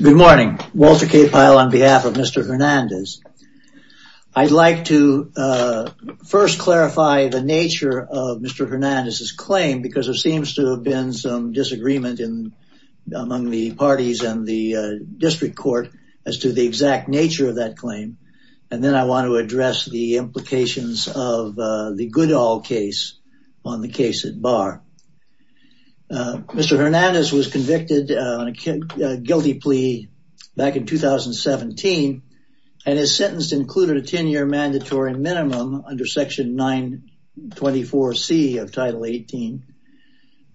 Good morning. Walter Capile on behalf of Mr. Hernandez. I'd like to first clarify the nature of Mr. Hernandez's claim because there seems to have been some disagreement in among the parties and the district court as to the exact nature of that claim. And then I want to address the implications of the good all case on the case at bar. Mr. Hernandez was convicted on a guilty plea of back in 2017 and is sentenced included a 10 year mandatory minimum under section 924 C of title 18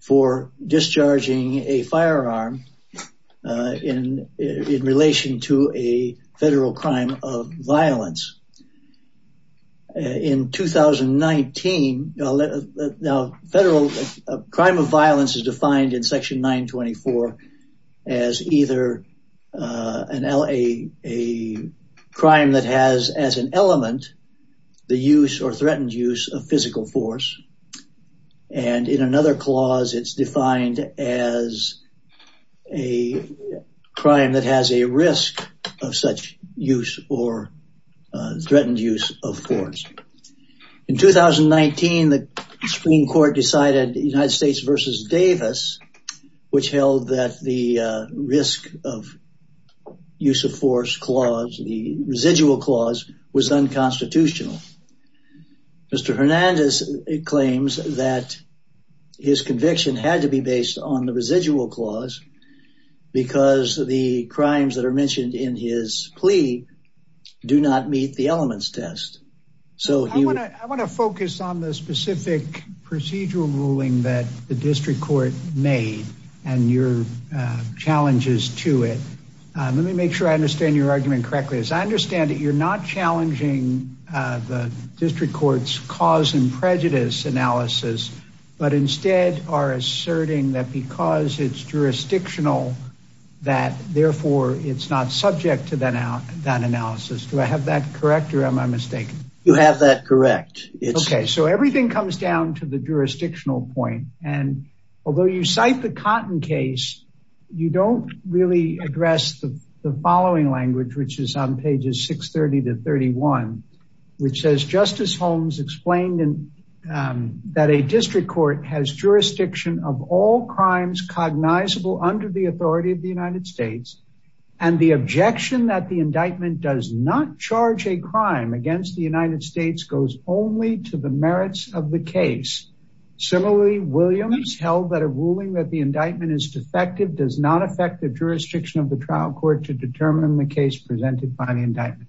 for discharging a firearm in relation to a federal crime of violence. In 2019, now federal crime of violence is defined in section 924 as either a crime that has as an element, the use or threatened use of physical force. And in another clause, it's defined as a crime that has a risk of such use or threatened use of force. In 2019, the Supreme Court decided United States versus Davis, which held that the risk of use of force clause, the residual clause was unconstitutional. Mr. Hernandez claims that his conviction had to be based on the residual clause because the crimes that are mentioned in his plea do not meet the elements test. I want to focus on the specific procedural ruling that the district court made and your challenges to it. Let me make sure I understand your argument correctly. As I understand it, you're not challenging the district court's cause and prejudice analysis, but instead are asserting that because it's jurisdictional, that therefore it's not subject to that analysis. Do I have that correct or am I mistaken? You have that correct. goes only to the merits of the case. Similarly, Williams held that a ruling that the indictment is defective does not affect the jurisdiction of the trial court to determine the case presented by the indictment.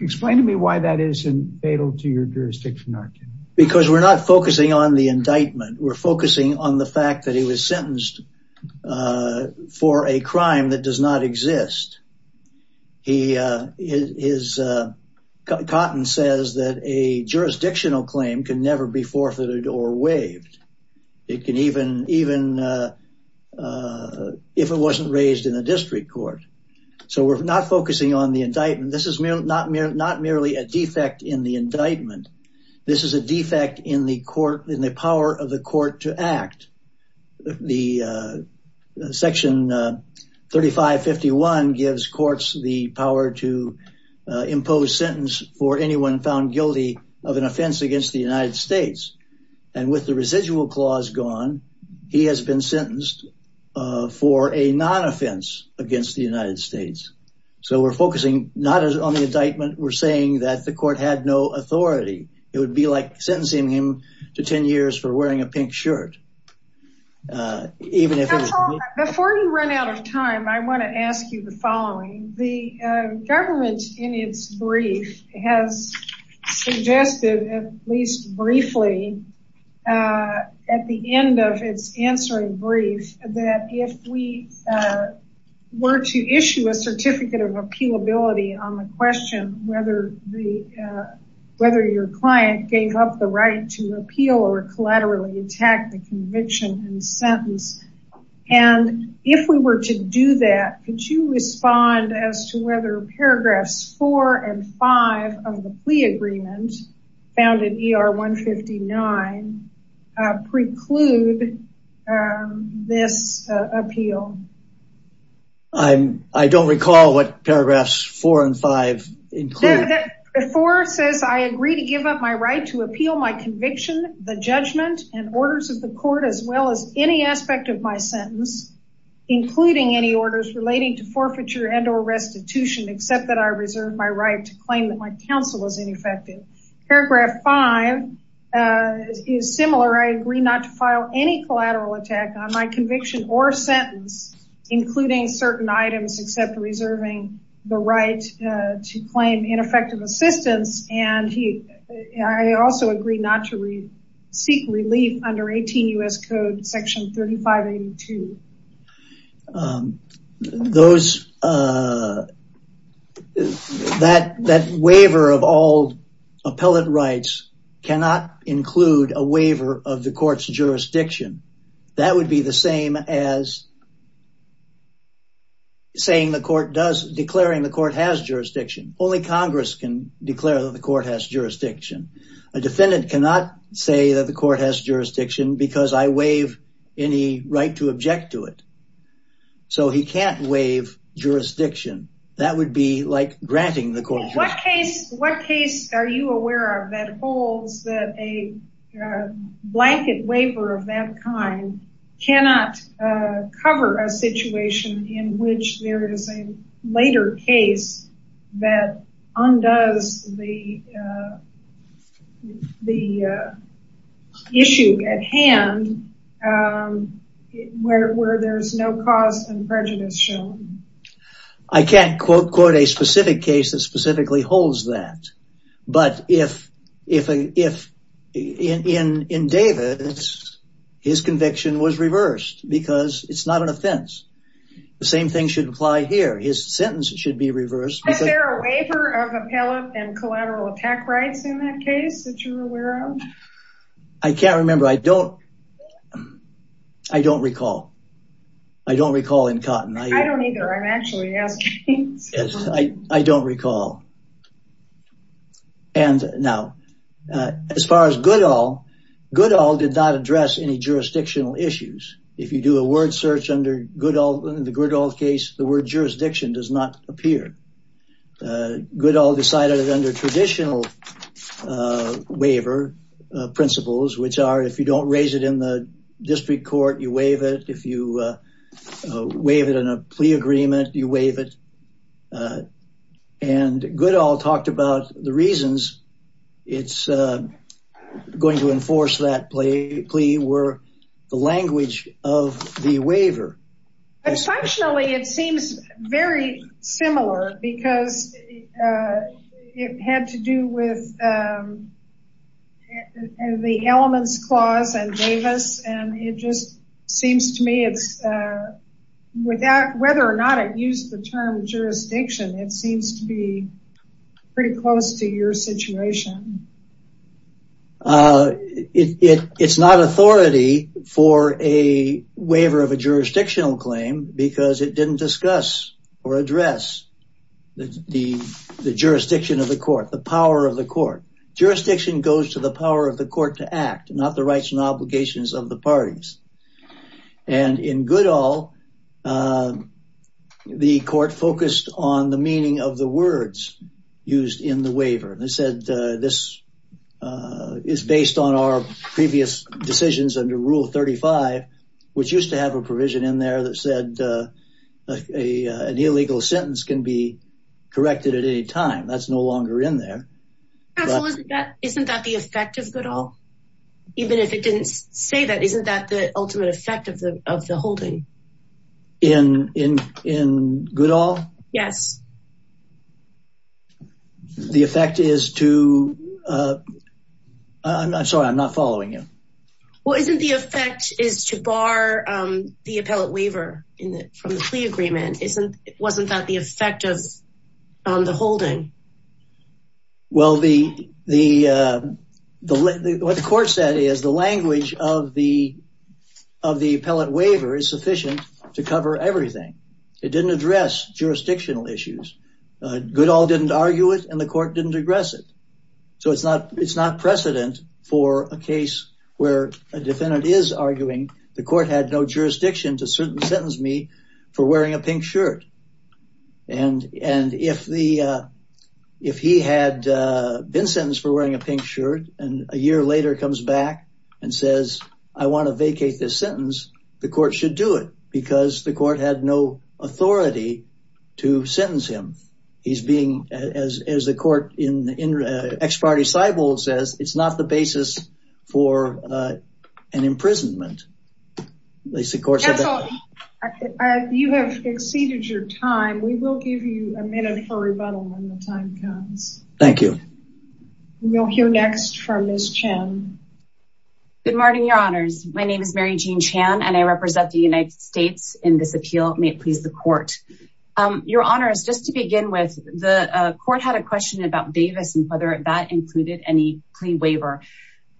Explain to me why that isn't fatal to your jurisdiction argument. Because we're not focusing on the indictment. We're focusing on the fact that he was sentenced for a crime that does not exist. Cotton says that a jurisdictional claim can never be forfeited or waived, even if it wasn't raised in the district court. We're not focusing on the indictment. This is not merely a defect in the indictment. This is a defect in the power of the court to act. Section 3551 gives courts the power to impose sentence for anyone found guilty of an offense against the United States. And with the residual clause gone, he has been sentenced for a non-offense against the United States. So we're focusing not on the indictment. We're saying that the court had no authority. It would be like sentencing him to 10 years for wearing a pink shirt. Before we run out of time, I want to ask you the following. The government, in its brief, has suggested, at least briefly, at the end of its answering brief, that if we were to issue a certificate of appealability on the question whether your client gave up the right to appeal or collaterally attack the convict, and if we were to do that, could you respond as to whether paragraphs 4 and 5 of the plea agreement, found in ER 159, preclude this appeal? I don't recall what paragraphs 4 and 5 include. Paragraph 4 says, I agree to give up my right to appeal my conviction, the judgment, and orders of the court, as well as any aspect of my sentence, including any orders relating to forfeiture and or restitution, except that I reserve my right to claim that my counsel is ineffective. Paragraph 5 is similar. I agree not to file any collateral attack on my conviction or sentence, including certain items except reserving the right to claim ineffective assistance, and I also agree not to seek relief under 18 U.S. Code section 3582. That waiver of all appellate rights cannot include a waiver of the court's jurisdiction. That would be the same as declaring the court has jurisdiction. Only Congress can declare that the court has jurisdiction. A defendant cannot say that the court has jurisdiction because I waive any right to object to it. So he can't waive jurisdiction. That would be like granting the court jurisdiction. What case are you aware of that holds that a blanket waiver of that kind cannot cover a situation in which there is a later case that undoes the issue at hand where there's no cause and prejudice shown? I can't quote quote a specific case that specifically holds that, but if in Davis, his conviction was reversed because it's not an offense. The same thing should apply here. His sentence should be reversed. Is there a waiver of appellate and collateral attack rights in that case that you're aware of? I can't remember. I don't, I don't recall. I don't recall in Cotton. I don't either. I'm actually asking. I don't recall. And now as far as Goodall, Goodall did not address any jurisdictional issues. If you do a word search under Goodall, the Goodall case, the word jurisdiction does not appear. Goodall decided it under traditional waiver principles, which are if you don't raise it in the district court, you waive it. If you waive it in a plea agreement, you waive it. And Goodall talked about the reasons it's going to enforce that plea were the language of the waiver. Functionally, it seems very similar because it had to do with the elements clause and Davis. And it just seems to me it's without whether or not it used the term jurisdiction, it seems to be pretty close to your situation. It's not authority for a waiver of a jurisdictional claim because it didn't discuss or address the jurisdiction of the court, the power of the court, jurisdiction goes to the power of the court to act, not the rights and obligations of the parties. And in Goodall, the court focused on the meaning of the words used in the waiver. They said this is based on our previous decisions under Rule 35, which used to have a provision in there that said an illegal sentence can be corrected at any time. That's no longer in there. Isn't that the effect of Goodall? Even if it didn't say that, isn't that the ultimate effect of the holding? In Goodall? Yes. The effect is to, I'm sorry, I'm not following you. Well, isn't the effect is to bar the appellate waiver from the plea agreement. Wasn't that the effect of the holding? Well, what the court said is the language of the appellate waiver is sufficient to cover everything. It didn't address jurisdictional issues. Goodall didn't argue it and the court didn't digress it. So it's not precedent for a case where a defendant is arguing the court had no jurisdiction to sentence me for wearing a pink shirt. And if he had been sentenced for wearing a pink shirt and a year later comes back and says, I want to vacate this sentence, the court should do it because the court had no authority to sentence him. He's being, as the court in the ex-party sidewall says, it's not the basis for an imprisonment. You have exceeded your time. We will give you a minute for rebuttal when the time comes. Thank you. We'll hear next from Ms. Chan. Good morning, your honors. My name is Mary Jean Chan and I represent the United States in this appeal. May it please the court. Your honors, just to begin with, the court had a question about Davis and whether that included any plea waiver.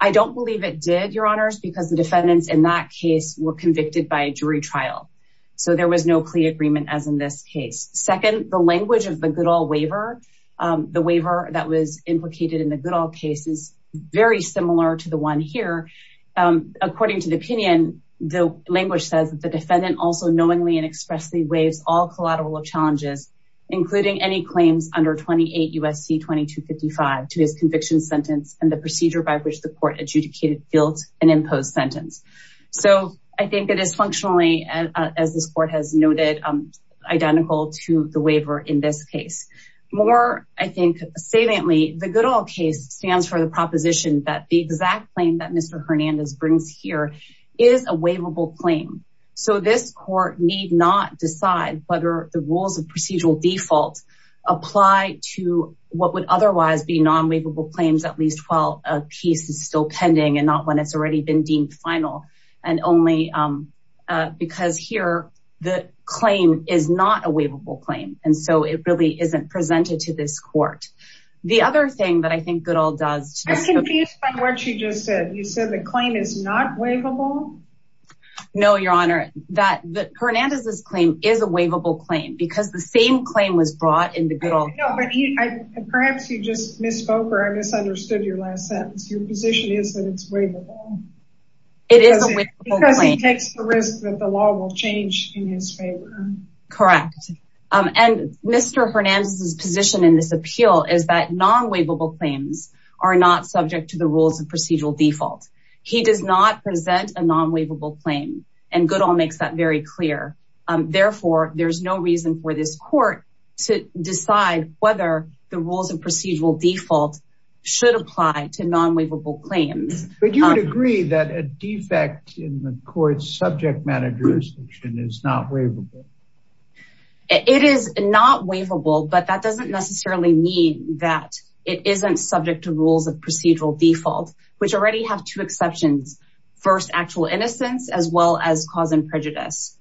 I don't believe it did, your honors, because the defendants in that case were convicted by jury trial. So there was no plea agreement as in this case. Second, the language of the Goodall waiver, the waiver that was implicated in the Goodall case is very similar to the one here. According to the opinion, the language says that the defendant also knowingly and expressly waives all collateral of challenges, including any claims under 28 U.S.C. 2255 to his conviction sentence and the procedure by which the court adjudicated, built, and imposed sentence. So I think it is functionally, as this court has noted, identical to the waiver in this case. More, I think, saliently, the Goodall case stands for the proposition that the exact claim that Mr. Hernandez brings here is a waivable claim. So this court need not decide whether the rules of procedural default apply to what would otherwise be non-waivable claims, at least while a case is still pending and not when it's already been deemed final. And only because here the claim is not a waivable claim. And so it really isn't presented to this court. The other thing that I think Goodall does. I'm confused by what you just said. You said the claim is not waivable. No, your honor, that Hernandez's claim is a waivable claim because the same claim was brought in the Goodall case. Perhaps you just misspoke or I misunderstood your last sentence. Your position is that it's waivable. It is a waivable claim. Because he takes the risk that the law will change in his favor. Correct. And Mr. Hernandez's position in this appeal is that non-waivable claims are not subject to the rules of procedural default. He does not present a non-waivable claim. And Goodall makes that very clear. Therefore, there's no reason for this court to decide whether the rules of procedural default should apply to non-waivable claims. But you would agree that a defect in the court's subject matter jurisdiction is not waivable. It is not waivable, but that doesn't necessarily mean that it isn't subject to rules of procedural default, which already have two exceptions. First, actual innocence as well as cause and prejudice.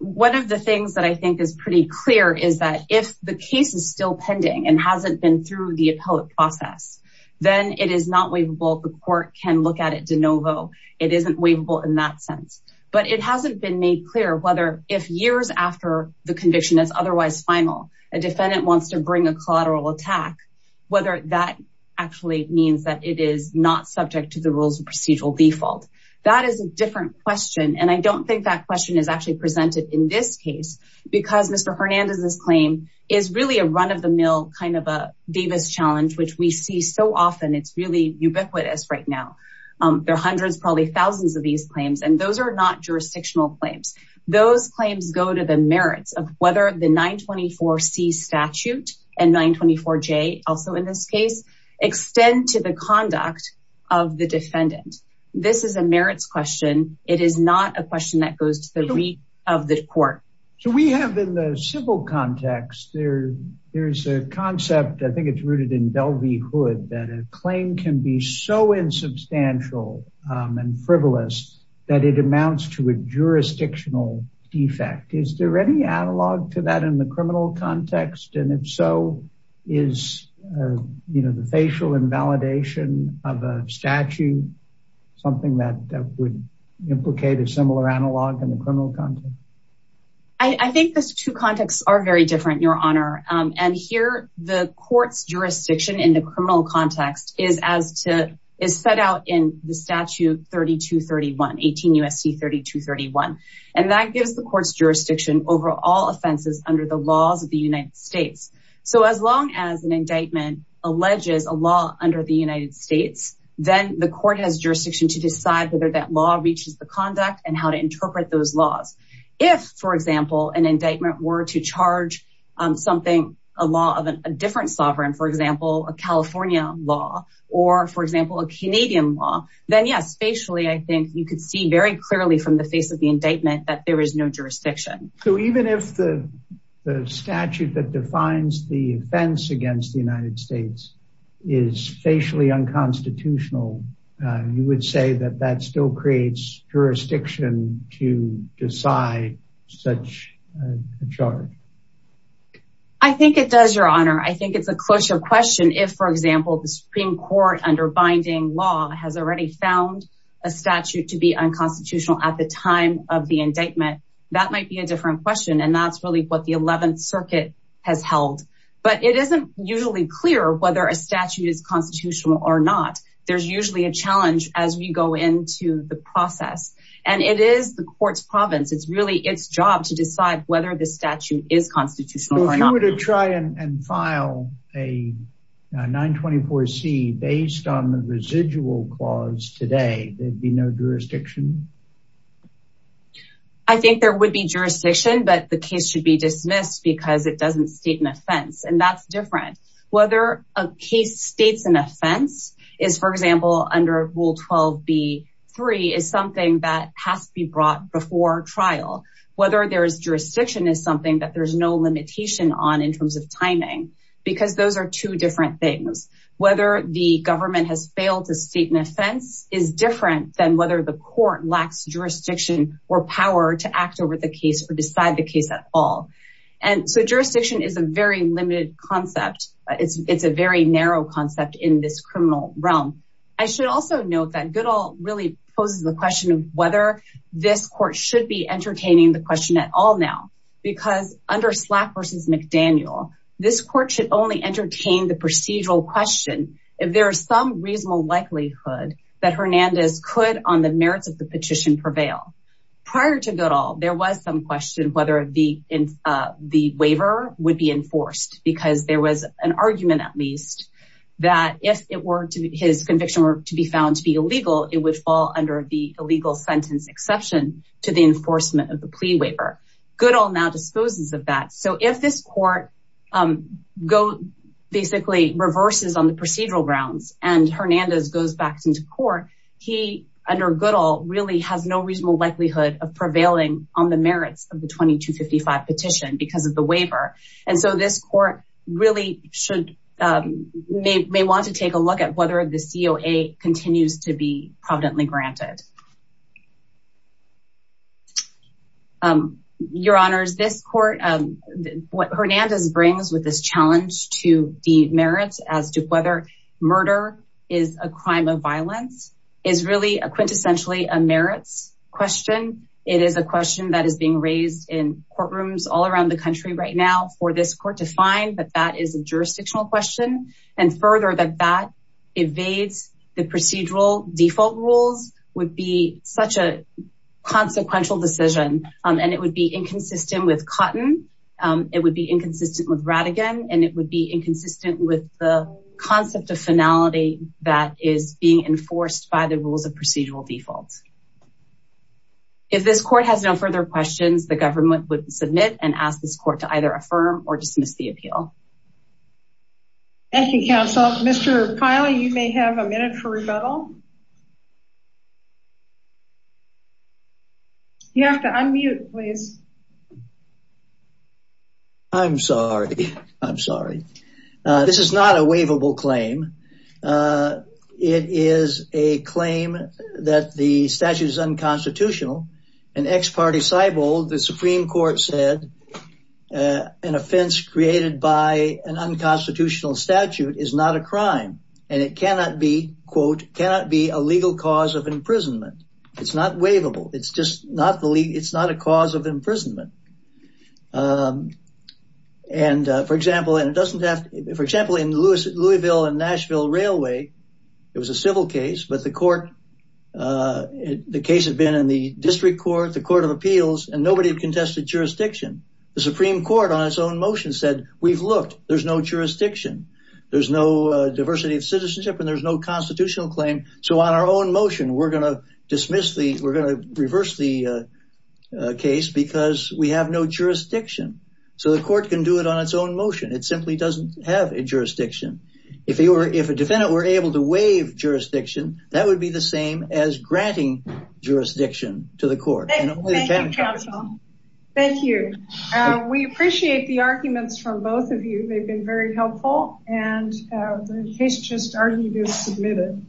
One of the things that I think is pretty clear is that if the case is still pending and hasn't been through the appellate process, then it is not waivable. The court can look at it de novo. It isn't waivable in that sense. But it hasn't been made clear whether if years after the conviction is otherwise final, a defendant wants to bring a collateral attack, whether that actually means that it is not subject to the rules of procedural default. That is a different question. And I don't think that question is actually presented in this case because Mr. Hernandez's claim is really a run-of-the-mill kind of a Davis challenge, which we see so often. And it's really ubiquitous right now. There are hundreds, probably thousands of these claims, and those are not jurisdictional claims. Those claims go to the merits of whether the 924C statute and 924J, also in this case, extend to the conduct of the defendant. This is a merits question. It is not a question that goes to the reach of the court. So we have in the civil context, there's a concept, I think it's rooted in Delvey Hood, that a claim can be so insubstantial and frivolous that it amounts to a jurisdictional defect. Is there any analog to that in the criminal context? And if so, is the facial invalidation of a statute something that would implicate a similar analog in the criminal context? I think those two contexts are very different, Your Honor. And here, the court's jurisdiction in the criminal context is set out in the statute 3231, 18 U.S.C. 3231. And that gives the court's jurisdiction over all offenses under the laws of the United States. So as long as an indictment alleges a law under the United States, then the court has jurisdiction to decide whether that law reaches the conduct and how to interpret those laws. If, for example, an indictment were to charge something, a law of a different sovereign, for example, a California law or, for example, a Canadian law, then yes, facially, I think you could see very clearly from the face of the indictment that there is no jurisdiction. So even if the statute that defines the offense against the United States is facially unconstitutional, you would say that that still creates jurisdiction to decide such a charge? I think it does, Your Honor. I think it's a closer question if, for example, the Supreme Court under binding law has already found a statute to be unconstitutional at the time of the indictment. That might be a different question. And that's really what the 11th Circuit has held. But it isn't usually clear whether a statute is constitutional or not. There's usually a challenge as we go into the process. And it is the court's province. It's really its job to decide whether the statute is constitutional or not. If you were to try and file a 924C based on the residual clause today, there'd be no jurisdiction? I think there would be jurisdiction, but the case should be dismissed because it doesn't state an offense. And that's different. Whether a case states an offense is, for example, under Rule 12b-3 is something that has to be brought before trial. Whether there is jurisdiction is something that there's no limitation on in terms of timing, because those are two different things. Whether the government has failed to state an offense is different than whether the court lacks jurisdiction or power to act over the case or decide the case at all. And so jurisdiction is a very narrow concept in this criminal realm. I should also note that Goodall really poses the question of whether this court should be entertaining the question at all now. Because under Slack v. McDaniel, this court should only entertain the procedural question if there is some reasonable likelihood that Hernandez could, on the merits of the petition, prevail. Prior to Goodall, there was some question whether the waiver would be enforced because there was an argument, at least, that if his conviction were to be found to be illegal, it would fall under the illegal sentence exception to the enforcement of the plea waiver. Goodall now disposes of that. So if this court basically reverses on the procedural grounds and Hernandez goes back into court, he, under Goodall, really has no reasonable likelihood of prevailing on the merits of the 2255 petition because of the waiver. And so this court really may want to take a look at whether the COA continues to be providently granted. Your Honors, this court, what Hernandez brings with this challenge to the merits as to whether murder is a crime of violence is really a quintessentially a merits question. It is a question that is being raised in courtrooms all around the country right now for this court to find that that is a jurisdictional question. And further, that that evades the procedural default rules would be such a consequential decision. And it would be inconsistent with Cotton. It would be inconsistent with Rattigan, and it would be inconsistent with the concept of finality that is being enforced by the rules of procedural defaults. If this court has no further questions, the government would submit and ask this court to either affirm or dismiss the appeal. Thank you, counsel. Mr. Kiley, you may have a minute for rebuttal. You have to unmute, please. I'm sorry. I'm sorry. This is not a waivable claim. It is a claim that the statute is unconstitutional. An ex parte cyborg, the Supreme Court said an offense created by an unconstitutional statute is not a crime and it cannot be, quote, cannot be a legal cause of imprisonment. It's not waivable. It's just not the, it's not a cause of imprisonment. And, for example, and it doesn't have, for example, in Louisville and Nashville Railway, it was a civil case, but the court, the case had been in the district court, the court of appeals, and nobody contested jurisdiction. The Supreme Court on its own motion said, we've looked, there's no jurisdiction, there's no diversity of citizenship, and there's no constitutional claim. So on our own motion, we're going to dismiss the, we're going to reverse the case because we have no jurisdiction. So the court can do it on its own motion. It simply doesn't have a jurisdiction. If you were, if a defendant were able to waive jurisdiction, that would be the same as granting jurisdiction to the court. Thank you. We appreciate the arguments from both of you. They've been very helpful and the case just argued is submitted.